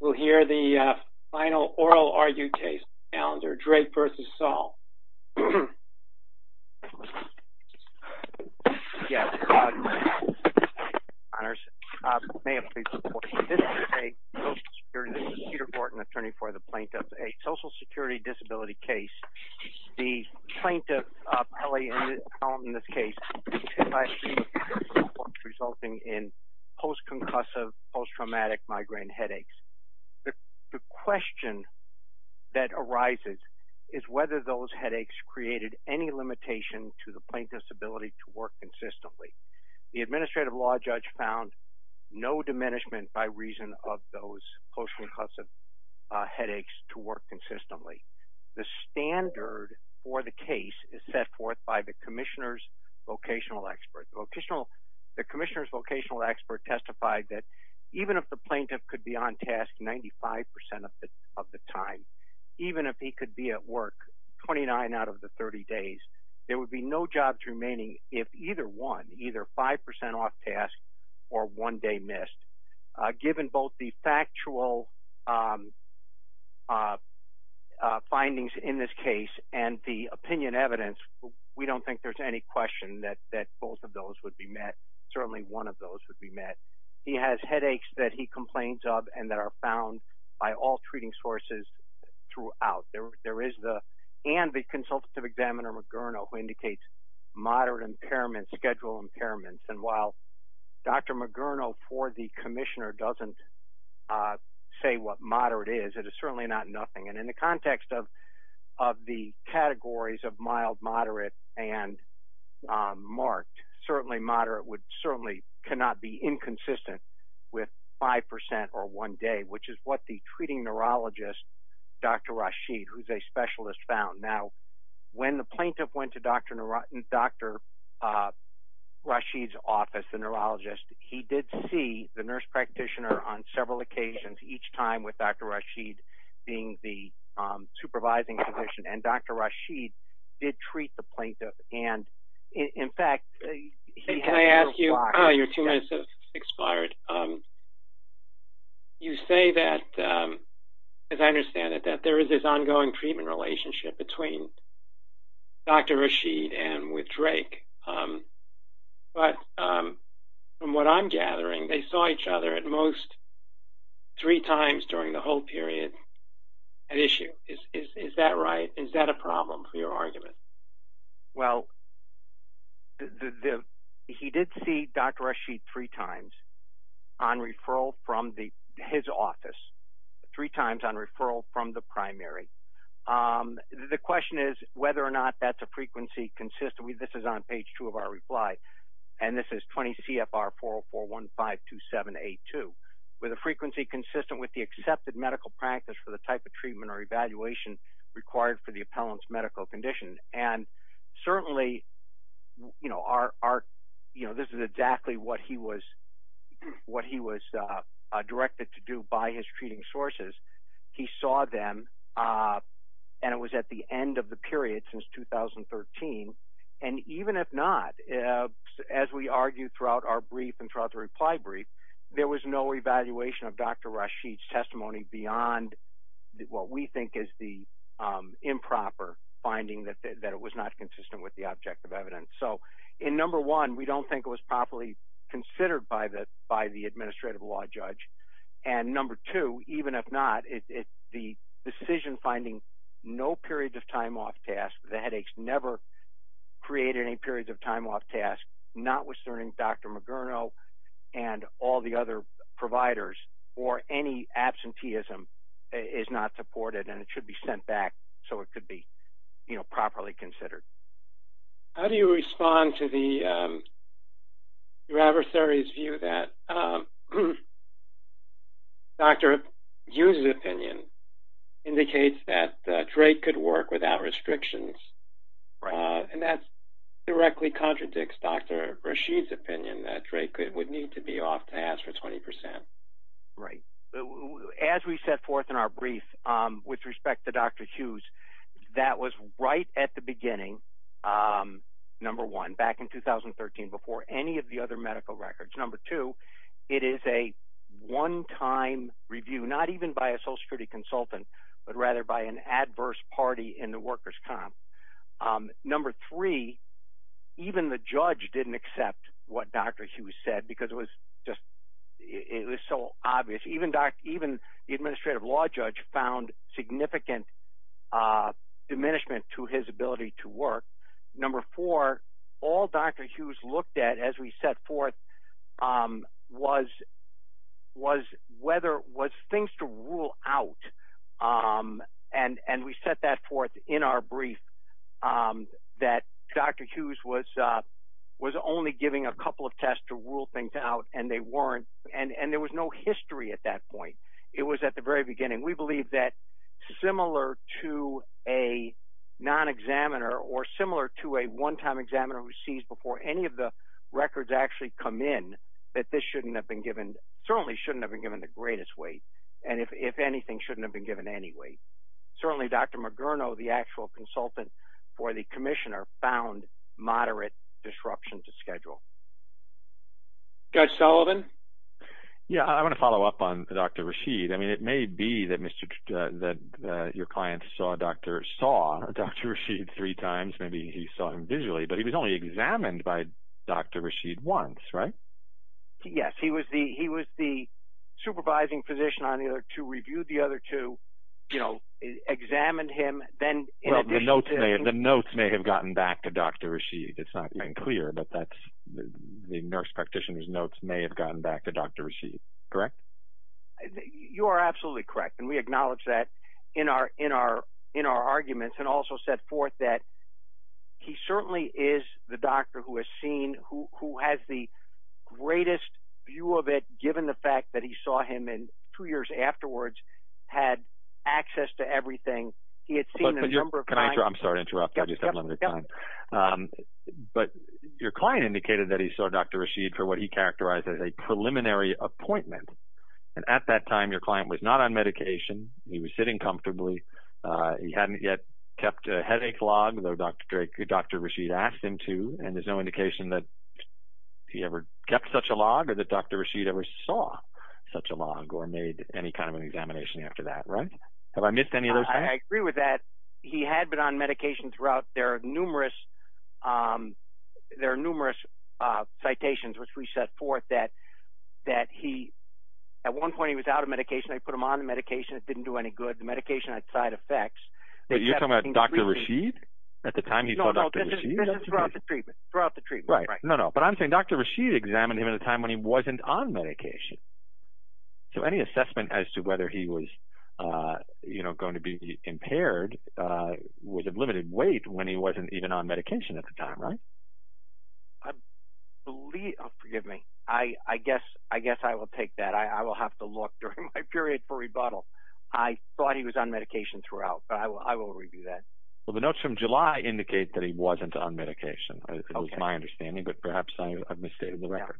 We'll hear the final oral argued case, Drake v. Saul. This is Peter Borton, attorney for the plaintiff, a social security disability case. The plaintiff, in this case, resulting in post-concussive, post-traumatic migraine headaches. The question that arises is whether those headaches created any limitation to the plaintiff's ability to work consistently. The administrative law judge found no diminishment by reason of those post-concussive headaches to work consistently. The standard for the case is set forth by the commissioner's vocational expert. The commissioner's vocational expert testified that even if the plaintiff could be on task 95% of the time, even if he could be at work 29 out of the 30 days, there would be no jobs remaining if either one, either 5% off task or one day missed. Given both the factual findings in this case and the opinion evidence, we don't think there's any question that both of those would be met. Certainly one of those would be met. He has headaches that he complains of and that are found by all treating sources throughout. There is the, and the consultative examiner, Mogerno, who indicates moderate impairments, schedule impairments. And while Dr. Mogerno for the commissioner doesn't say what moderate is, it is certainly not nothing. And in the context of the categories of mild, moderate, and marked, certainly moderate would, certainly cannot be inconsistent with 5% or one day, which is what the treating neurologist, Dr. Rashid, who's a specialist found. Now, when the plaintiff went to Dr. Rashid's office, the neurologist, he did see the nurse practitioner on several occasions, each time with Dr. Rashid being the supervising physician. And Dr. Rashid did treat the plaintiff. And, in fact, he had a little while. Can I ask you, oh, your two minutes have expired. You say that, as I understand it, that there is this ongoing treatment relationship between Dr. Rashid and with Drake. But from what I'm gathering, they saw each other at most three times during the whole period at issue. Is that right? Is that a problem for your argument? Well, he did see Dr. Rashid three times on referral from his office, three times on referral from the primary. The question is whether or not that's a frequency consistent. This is on page two of our reply. And this is 20 CFR 404152782. With a frequency consistent with the accepted medical practice for the type of treatment or evaluation required for the appellant's medical condition. And certainly, you know, this is exactly what he was directed to do by his treating sources. He saw them. And it was at the end of the period, since 2013. And even if not, as we argued throughout our brief and throughout the reply brief, there was no evaluation of Dr. Rashid's testimony beyond what we think is the improper finding that it was not consistent with the object of evidence. So, in number one, we don't think it was properly considered by the administrative law judge. And number two, even if not, the decision finding no periods of time off tasks, the headaches never created any periods of time off tasks, not withstanding Dr. Mogerno and all the other providers, or any absenteeism is not supported and it should be sent back so it could be, you know, properly considered. How do you respond to your adversary's view that Dr. Hughes' opinion indicates that Drake could work without restrictions? And that directly contradicts Dr. Rashid's opinion that Drake would need to be off tasks for 20%. Right. As we set forth in our brief, with respect to Dr. Hughes, that was right at the beginning, number one, back in 2013, before any of the other medical records. Number two, it is a one-time review, not even by a social security consultant, but rather by an adverse party in the workers' comp. Number three, even the judge didn't accept what Dr. Hughes said because it was just, it was so obvious. Even the administrative law judge found significant diminishment to his ability to work. Number four, all Dr. Hughes looked at as we set forth was whether, was things to rule out. And we set that forth in our brief that Dr. Hughes was only giving a couple of tests to rule things out and they weren't. And there was no history at that point. It was at the very beginning. We believe that similar to a non-examiner or similar to a one-time examiner who sees before any of the records actually come in, that this shouldn't have been given, certainly shouldn't have been given the greatest weight. And if anything, shouldn't have been given any weight. Certainly Dr. Mugerno, the actual consultant for the commissioner, found moderate disruption to schedule. Judge Sullivan? Yeah, I want to follow up on Dr. Rasheed. I mean, it may be that your client saw Dr. Rasheed three times. Maybe he saw him visually, but he was only examined by Dr. Rasheed once, right? Yes, he was the supervising physician on the other two, reviewed the other two, you know, examined him. Well, the notes may have gotten back to Dr. Rasheed. It's not been clear, but the nurse practitioner's notes may have gotten back to Dr. Rasheed, correct? You are absolutely correct. And we acknowledge that in our arguments and also set forth that he certainly is the doctor who has seen, who has the greatest view of it given the fact that he saw him in two years afterwards, had access to everything. He had seen a number of times. I'm sorry to interrupt. I just have limited time. But your client indicated that he saw Dr. Rasheed for what he characterized as a preliminary appointment. And at that time, your client was not on medication. He was sitting comfortably. He hadn't yet kept a headache log, though Dr. Rasheed asked him to, and there's no indication that he ever kept such a log or that Dr. Rasheed ever saw such a log or made any kind of an examination after that, right? Have I missed any of those things? I agree with that. He had been on medication throughout. There are numerous citations which we set forth that at one point he was out of medication. They put him on the medication. It didn't do any good. The medication had side effects. But you're talking about Dr. Rasheed at the time he saw Dr. Rasheed? No, no, this is throughout the treatment, throughout the treatment. Right, no, no. But I'm saying Dr. Rasheed examined him at a time when he wasn't on medication. So any assessment as to whether he was going to be impaired was of limited weight when he wasn't even on medication at the time, right? Forgive me. I guess I will take that. I will have to look during my period for rebuttal. I thought he was on medication throughout, but I will review that. Well, the notes from July indicate that he wasn't on medication. It was my understanding, but perhaps I've misstated the record,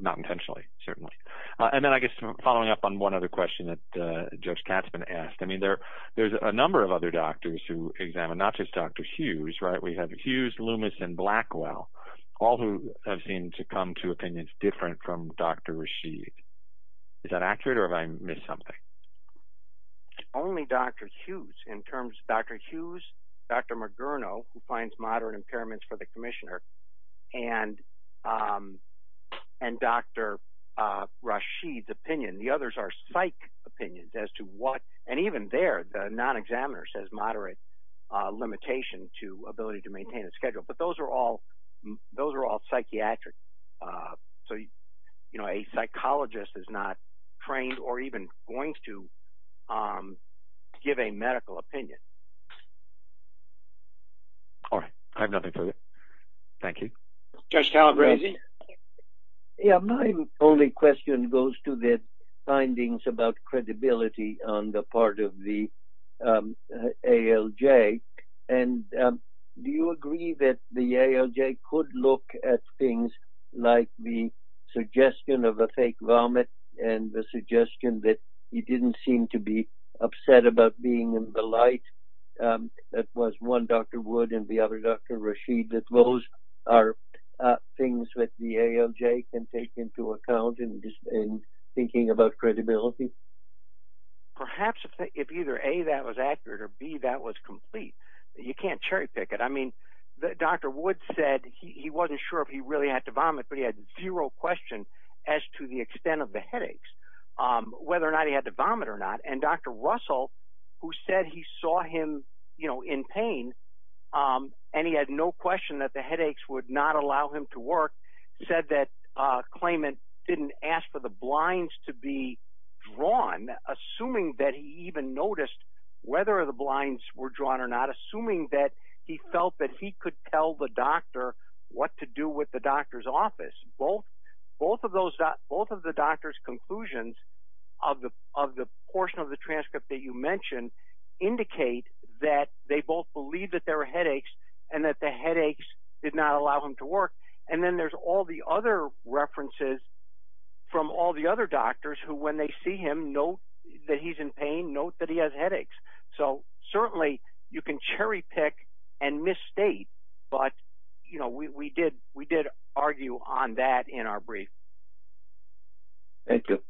not intentionally, certainly. And then I guess following up on one other question that Judge Katzman asked, I mean there's a number of other doctors who examined, not just Dr. Hughes, right? We have Hughes, Loomis, and Blackwell, all who have seemed to come to opinions different from Dr. Rasheed. Is that accurate or have I missed something? Only Dr. Hughes in terms of Dr. Hughes, Dr. Margurno, who finds moderate impairments for the commissioner, and Dr. Rasheed's opinion. The others are psych opinions as to what, and even there, the non-examiner says moderate limitation to ability to maintain a schedule. But those are all psychiatric. So a psychologist is not trained or even going to give a medical opinion. All right. I have nothing further. Thank you. Judge Calabresi. Yeah, my only question goes to the findings about credibility on the part of the ALJ. And do you agree that the ALJ could look at things like the suggestion of a fake vomit and the suggestion that he didn't seem to be upset about being in the light, that was one Dr. Wood and the other Dr. Rasheed, that those are things that the ALJ can take into account in thinking about credibility? Perhaps if either A, that was accurate, or B, that was complete. You can't cherry pick it. I mean, Dr. Wood said he wasn't sure if he really had to vomit, but he had zero question as to the extent of the headaches, whether or not he had to vomit or not. And Dr. Russell, who said he saw him in pain, and he had no question that the headaches would not allow him to work, said that Klayman didn't ask for the blinds to be drawn, assuming that he even noticed whether the blinds were drawn or not, assuming that he felt that he could tell the doctor what to do with the doctor's office. Both of the doctor's conclusions of the portion of the transcript that you mentioned indicate that they both believe that there were headaches and that the headaches did not allow him to work. And then there's all the other references from all the other doctors who, when they see him, know that he's in pain, know that he has headaches. So certainly you can cherry pick and misstate, but we did argue on that in our brief. Thank you.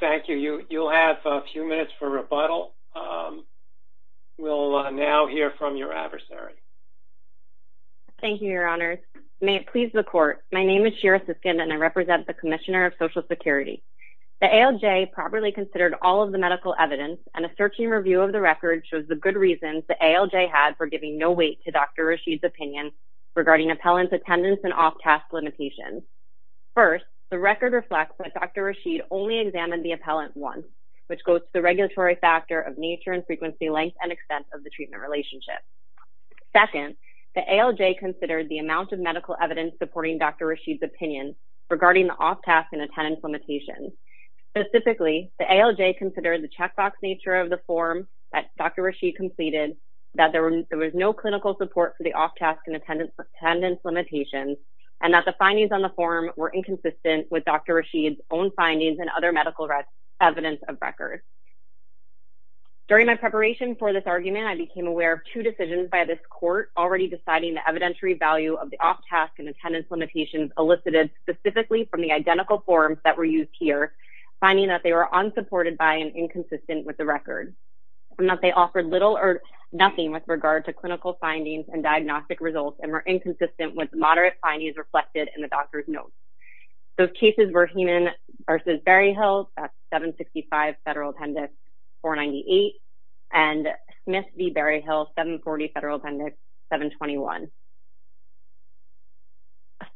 Thank you. You'll have a few minutes for rebuttal. We'll now hear from your adversary. Thank you, Your Honors. May it please the Court, my name is Shira Siskin, and I represent the Commissioner of Social Security. The ALJ properly considered all of the medical evidence, and a searching review of the record shows the good reasons the ALJ had for giving no weight to Dr. Rashid's opinion regarding appellant's attendance and off-task limitations. First, the record reflects that Dr. Rashid only examined the appellant once, which goes to the regulatory factor of nature and frequency length and extent of the treatment relationship. Second, the ALJ considered the amount of medical evidence supporting Dr. Rashid's opinion regarding the off-task and attendance limitations. Specifically, the ALJ considered the checkbox nature of the form that Dr. Rashid completed, that there was no clinical support for the off-task and attendance limitations, and that the findings on the form were inconsistent with Dr. Rashid's own findings and other medical evidence of record. During my preparation for this argument, I became aware of two decisions by this Court already deciding the evidentiary value of the off-task and attendance limitations elicited specifically from the identical forms that were used here, finding that they were unsupported by and inconsistent with the record, and that they offered little or nothing with regard to clinical findings and diagnostic results and were inconsistent with moderate findings reflected in the doctor's notes. Those cases were Heenan v. Berryhill at 765 Federal Appendix 498 and Smith v. Berryhill, 740 Federal Appendix 721.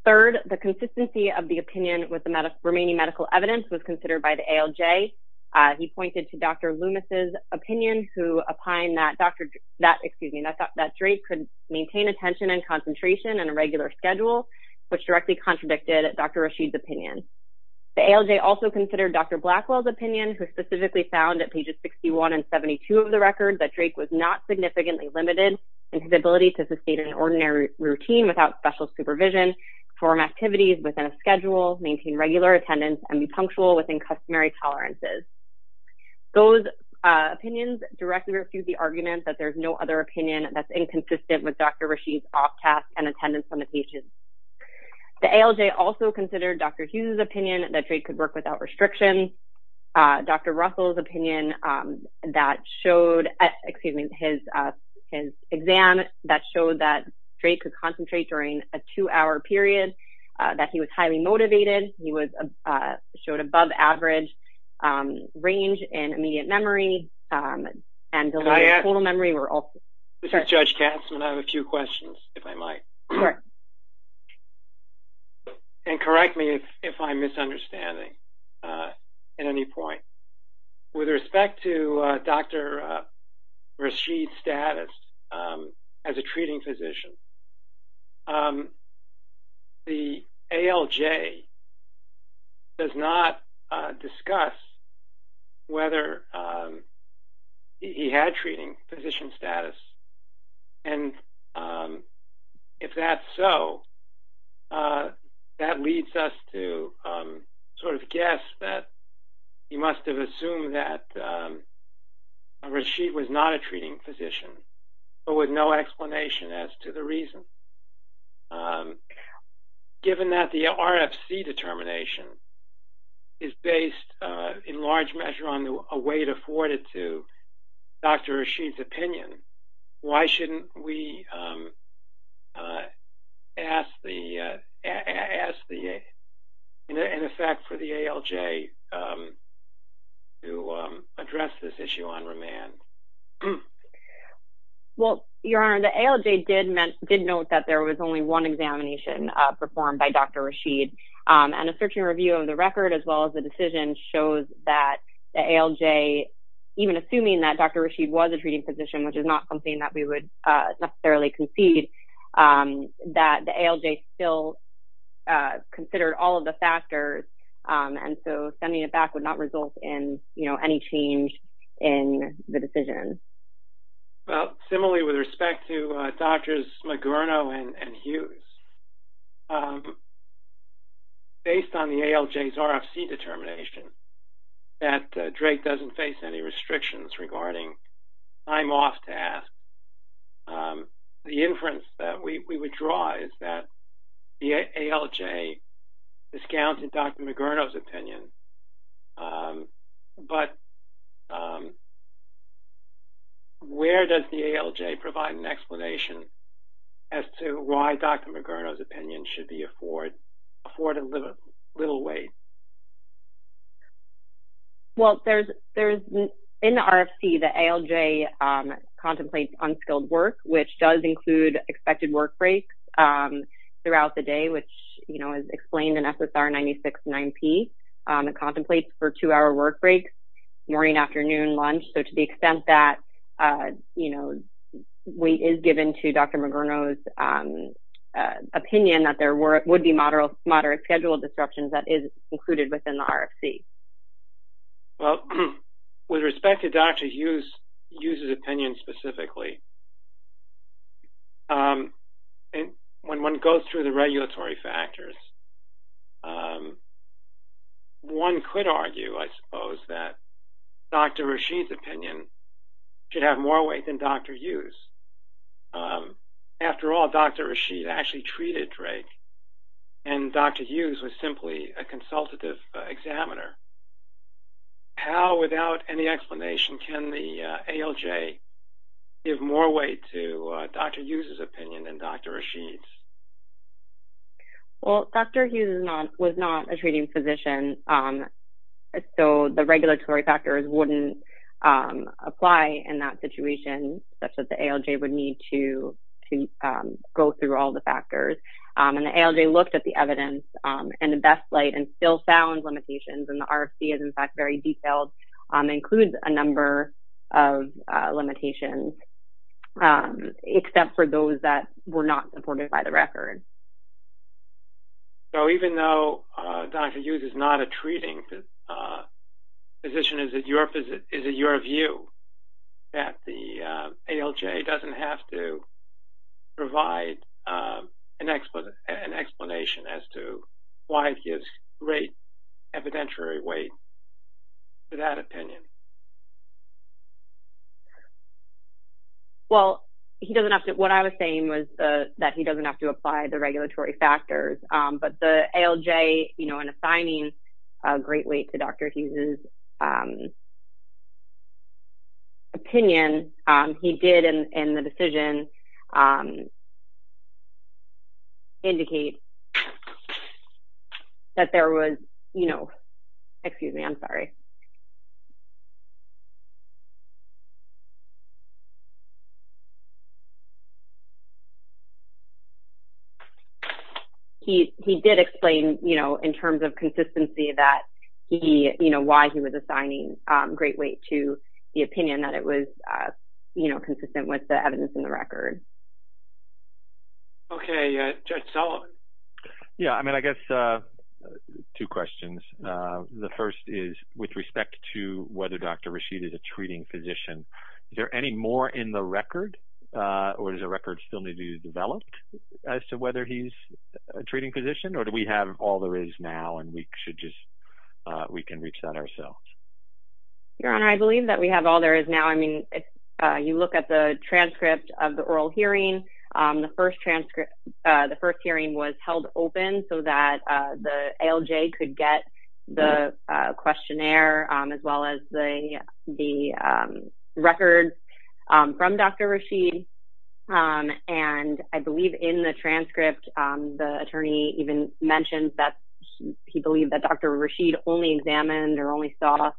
Third, the consistency of the opinion with the remaining medical evidence was considered by the ALJ. He pointed to Dr. Loomis' opinion, who opined that Dr. Drake could maintain attention and concentration and a regular schedule, which directly contradicted Dr. Rashid's opinion. The ALJ also considered Dr. Blackwell's opinion, who specifically found at pages 61 and 72 of the record that Drake was not significantly limited in his ability to sustain an ordinary routine without special supervision, form activities within a schedule, maintain regular attendance, and be punctual within customary tolerances. Those opinions directly refute the argument that there's no other opinion that's inconsistent with Dr. Rashid's off-task and attendance limitations. The ALJ also considered Dr. Hughes' opinion that Drake could work without restrictions, Dr. Russell's opinion that showed, excuse me, his exam that showed that Drake could concentrate during a two-hour period, that he was highly motivated, he showed above-average range in immediate memory, and delayed total memory were also… And correct me if I'm misunderstanding at any point. With respect to Dr. Rashid's status as a treating physician, the ALJ does not discuss whether he had treating physician status, and if that's so, that leads us to sort of guess that he must have assumed that Rashid was not a treating physician, but with no explanation as to the reason. Given that the RFC determination is based in large measure on a weight afforded to Dr. Rashid's opinion, why shouldn't we ask an effect for the ALJ to address this issue on remand? Well, Your Honor, the ALJ did note that there was only one examination performed by Dr. Rashid, and a search and review of the record as well as the decision shows that the ALJ, even assuming that Dr. Rashid was a treating physician, which is not something that we would necessarily concede, that the ALJ still considered all of the factors, and so sending it back would not result in any change in the decision. Well, similarly with respect to Drs. Magorno and Hughes, based on the ALJ's RFC determination that Drake doesn't face any restrictions regarding time off tasks, the inference that we would draw is that the ALJ discounted Dr. Magorno's opinion, but where does the ALJ provide an explanation as to why Dr. Magorno's opinion should be afforded little weight? Well, in the RFC, the ALJ contemplates unskilled work, which does include expected work breaks throughout the day, which is explained in SSR 96-9P. It contemplates for two-hour work breaks, morning, afternoon, lunch, so to the extent that weight is given to Dr. Magorno's opinion that there would be moderate schedule disruptions, that is included within the RFC. Well, with respect to Dr. Hughes' opinion specifically, when one goes through the regulatory factors, one could argue, I suppose, that Dr. Rasheed's opinion should have more weight than Dr. Hughes'. After all, Dr. Rasheed actually treated Drake, and Dr. Hughes was simply a consultative examiner. How, without any explanation, can the ALJ give more weight to Dr. Hughes' opinion than Dr. Rasheed's? Well, Dr. Hughes was not a treating physician, so the regulatory factors wouldn't apply in that situation, such that the ALJ would need to go through all the factors. The ALJ looked at the evidence in the best light and still found limitations, and the RFC is, in fact, very detailed. It includes a number of limitations, except for those that were not supported by the record. So, even though Dr. Hughes is not a treating physician, is it your view that the ALJ doesn't have to provide an explanation as to why it gives great evidentiary weight to that opinion? Well, what I was saying was that he doesn't have to apply the regulatory factors, but the ALJ, in assigning great weight to Dr. Hughes' opinion, he did, in the decision, indicate that there was, you know... Excuse me, I'm sorry. He did explain, you know, in terms of consistency, that he, you know, why he was assigning great weight to the opinion, that it was, you know, consistent with the evidence in the record. Okay, Judge Sullivan? Yeah, I mean, I guess two questions. The first is, with respect to whether Dr. Rasheed is a treating physician, is there any more in the record, or does the record still need to be developed, as to whether he's a treating physician, or do we have all there is now and we can reach that ourselves? Your Honor, I believe that we have all there is now. I mean, if you look at the transcript of the oral hearing, the first hearing was held open so that the ALJ could get the questionnaire, as well as the records from Dr. Rasheed. And I believe in the transcript, the attorney even mentioned that he believed that Dr. Rasheed only examined or only saw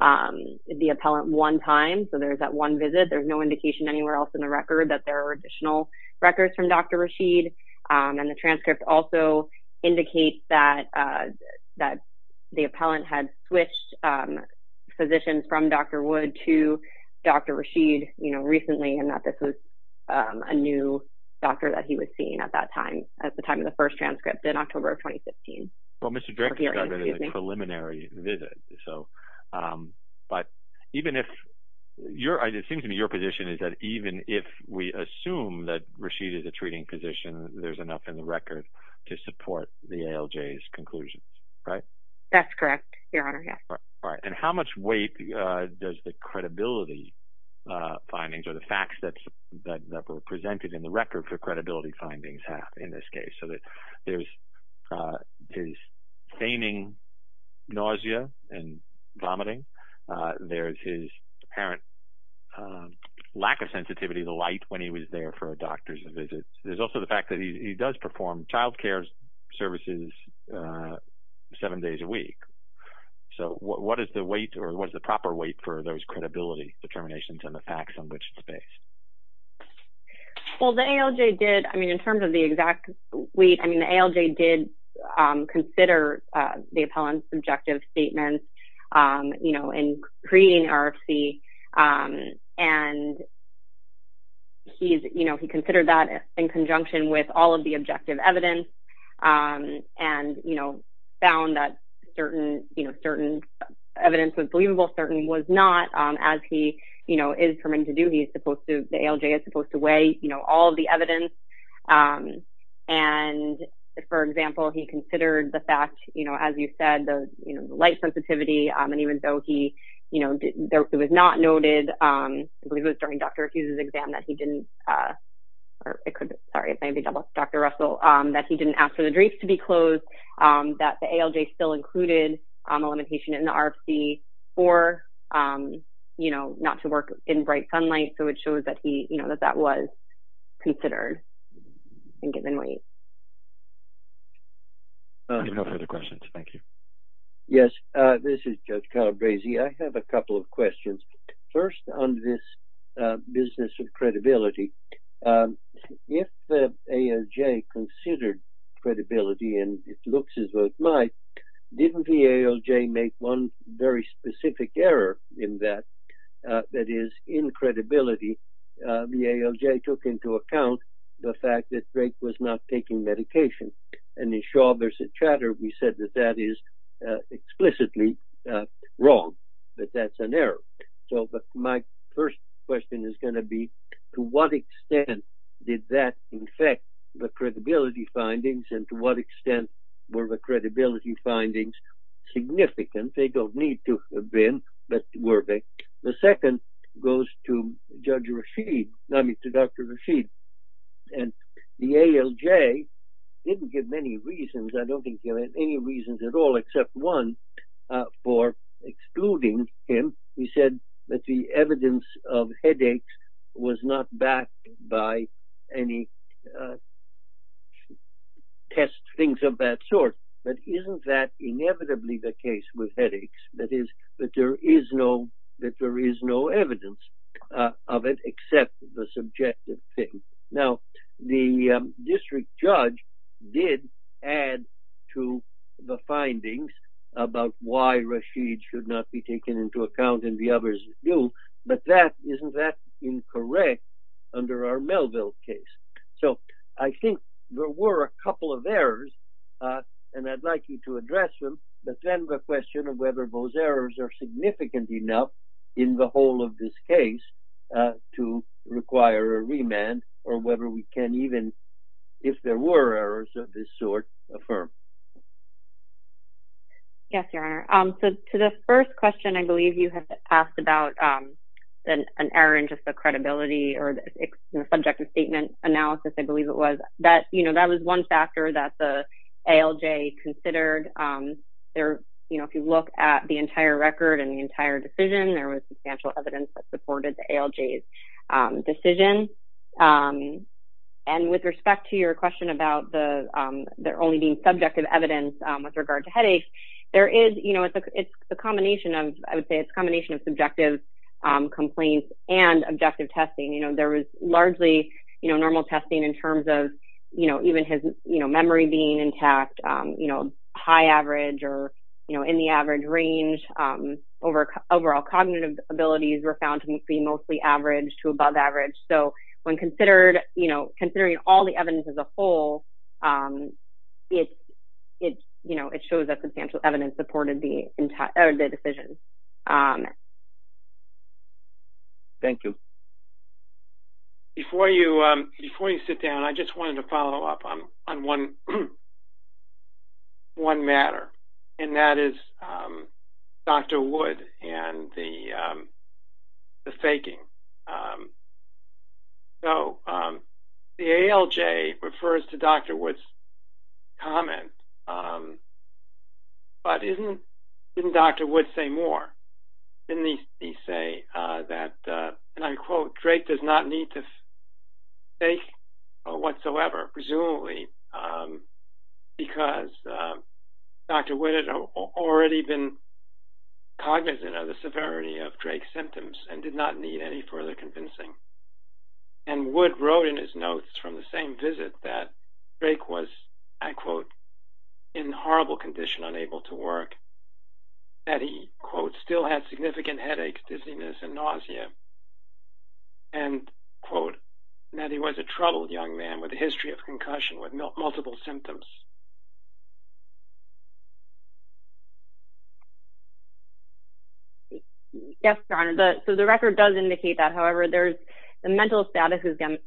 the appellant one time, so there's that one visit. There's no indication anywhere else in the record that there are additional records from Dr. Rasheed. And the transcript also indicates that the appellant had switched physicians from Dr. Wood to Dr. Rasheed, you know, recently, and that this was a new doctor that he was seeing at that time, at the time of the first transcript, in October of 2015. Well, Mr. Drake is talking about a preliminary visit. But even if your idea, it seems to me your position is that even if we assume that Rasheed is a treating physician, there's enough in the record to support the ALJ's conclusions, right? That's correct, Your Honor, yes. All right. And how much weight does the credibility findings or the facts that were presented in the record for credibility findings have in this case? So there's his feigning nausea and vomiting. There's his apparent lack of sensitivity to light when he was there for doctors' visits. There's also the fact that he does perform childcare services seven days a week. So what is the weight or what is the proper weight for those credibility determinations and the facts on which it's based? Well, the ALJ did, I mean, in terms of the exact weight, I mean, the ALJ did consider the appellant's objective statements in creating RFC. And he considered that in conjunction with all of the objective evidence and found that certain evidence was believable, certain was not. As he is permitted to do, the ALJ is supposed to weigh all of the evidence. And, for example, he considered the fact, you know, as you said, the light sensitivity. And even though he, you know, it was not noted, I believe it was during Dr. Raffuse's exam, that he didn't, or it could be, sorry, it may be Dr. Russell, that he didn't ask for the drapes to be closed, that the ALJ still included a limitation in the RFC for, you know, not to work in bright sunlight. So it shows that he, you know, that that was considered in given weight. We have no further questions. Thank you. Yes, this is Judge Calabrese. I have a couple of questions. First, on this business of credibility, if the ALJ considered credibility, and it looks as though it might, didn't the ALJ make one very specific error in that, that is, in credibility, the ALJ took into account the fact that Drake was not taking medication. And in Shaw v. Chatter, we said that that is explicitly wrong, that that's an error. So my first question is going to be, to what extent did that affect the credibility findings? And to what extent were the credibility findings significant? They don't need to have been, but were they? The second goes to Judge Rashid, I mean, to Dr. Rashid. And the ALJ didn't give many reasons, I don't think he had any reasons at all, except one for excluding him. He said that the evidence of headaches was not backed by any tests, things of that sort. But isn't that inevitably the case with headaches? That is, that there is no evidence of it except the subjective thing. Now, the district judge did add to the findings about why Rashid should not be taken into account, and the others do, but isn't that incorrect under our Melville case? So I think there were a couple of errors, and I'd like you to address them, but then the question of whether those errors are significant enough in the whole of this case to require a remand or whether we can even, if there were errors of this sort, affirm. Yes, Your Honor. So to the first question, I believe you have asked about an error in just the credibility or the subjective statement analysis, I believe it was. That was one factor that the ALJ considered. If you look at the entire record and the entire decision, there was substantial evidence that supported the ALJ's decision. And with respect to your question about there only being subjective evidence with regard to headaches, there is, you know, it's a combination of, I would say it's a combination of subjective complaints and objective testing. You know, there was largely, you know, normal testing in terms of, you know, even his memory being intact, you know, high average or, you know, in the average range. Overall cognitive abilities were found to be mostly average to above average. So when considered, you know, considering all the evidence as a whole, it's, you know, it shows that substantial evidence supported the entire decision. Thank you. Before you sit down, I just wanted to follow up on one matter, and that is Dr. Wood and the faking. So the ALJ refers to Dr. Wood's comment, but didn't Dr. Wood say more? Didn't he say that, and I quote, Drake does not need to fake whatsoever, presumably, because Dr. Wood had already been cognizant of the severity of Drake's symptoms and did not need any further convincing. And Wood wrote in his notes from the same visit that Drake was, I quote, in horrible condition, unable to work, that he, quote, still had significant headaches, dizziness, and nausea, and, quote, that he was a troubled young man with a history of concussion with multiple symptoms. Yes, Your Honor, so the record does indicate that. However, the mental status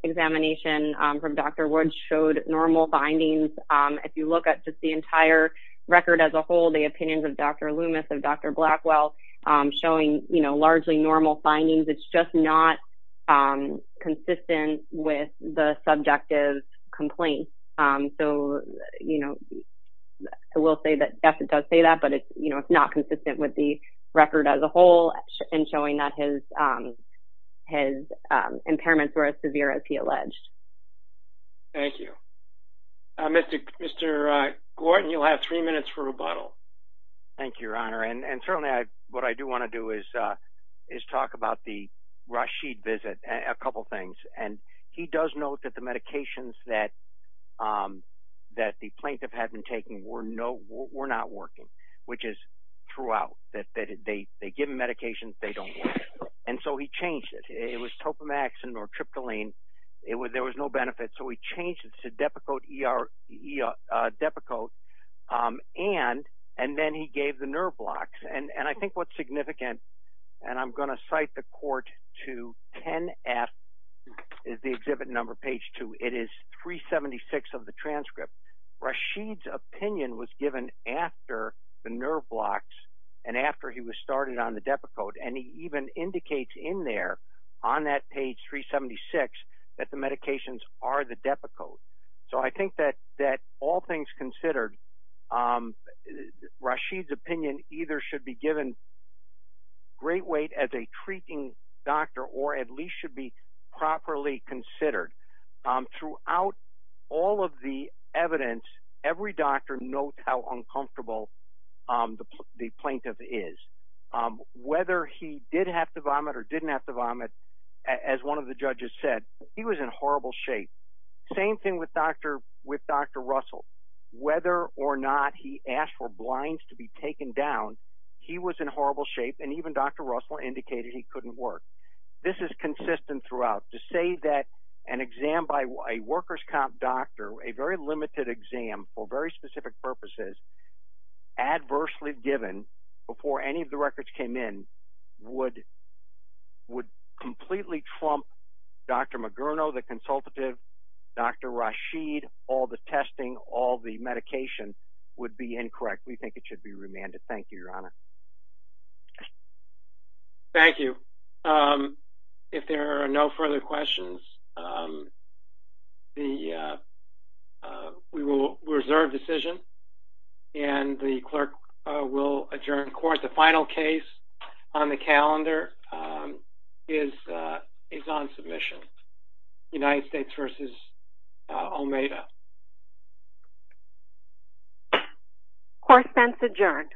examination from Dr. Wood showed normal findings. If you look at just the entire record as a whole, the opinions of Dr. Loomis, of Dr. Blackwell, showing, you know, largely normal findings. It's just not consistent with the subjective complaint. So, you know, I will say that yes, it does say that, but it's not consistent with the record as a whole in showing that his impairments were as severe as he alleged. Thank you. Mr. Gordon, you'll have three minutes for rebuttal. Thank you, Your Honor. And certainly what I do want to do is talk about the Rashid visit, a couple things. And he does note that the medications that the plaintiff had been taking were not working, which is throughout, that they give him medications, they don't work. And so he changed it. It was topamaxin or tryptoline. There was no benefit. So he changed it to Depakote and then he gave the nerve blocks. And I think what's significant, and I'm going to cite the court to 10F, is the exhibit number page 2. It is 376 of the transcript. Rashid's opinion was given after the nerve blocks and after he was started on the Depakote. And he even indicates in there on that page 376 that the medications are the Depakote. So I think that all things considered, Rashid's opinion either should be given great weight as a treating doctor or at least should be properly considered. Throughout all of the evidence, every doctor notes how uncomfortable the plaintiff is. Whether he did have to vomit or didn't have to vomit, as one of the judges said, he was in horrible shape. Same thing with Dr. Russell. Whether or not he asked for blinds to be taken down, he was in horrible shape, and even Dr. Russell indicated he couldn't work. This is consistent throughout. To say that an exam by a workers' comp doctor, a very limited exam for very specific purposes, adversely given, before any of the records came in, would completely trump Dr. Magurno, the consultative, Dr. Rashid, all the testing, all the medication, would be incorrect. We think it should be remanded. Thank you, Your Honor. Thank you. If there are no further questions, we will reserve decision, and the clerk will adjourn the court. The final case on the calendar is on submission. United States v. Almeida. Court then is adjourned.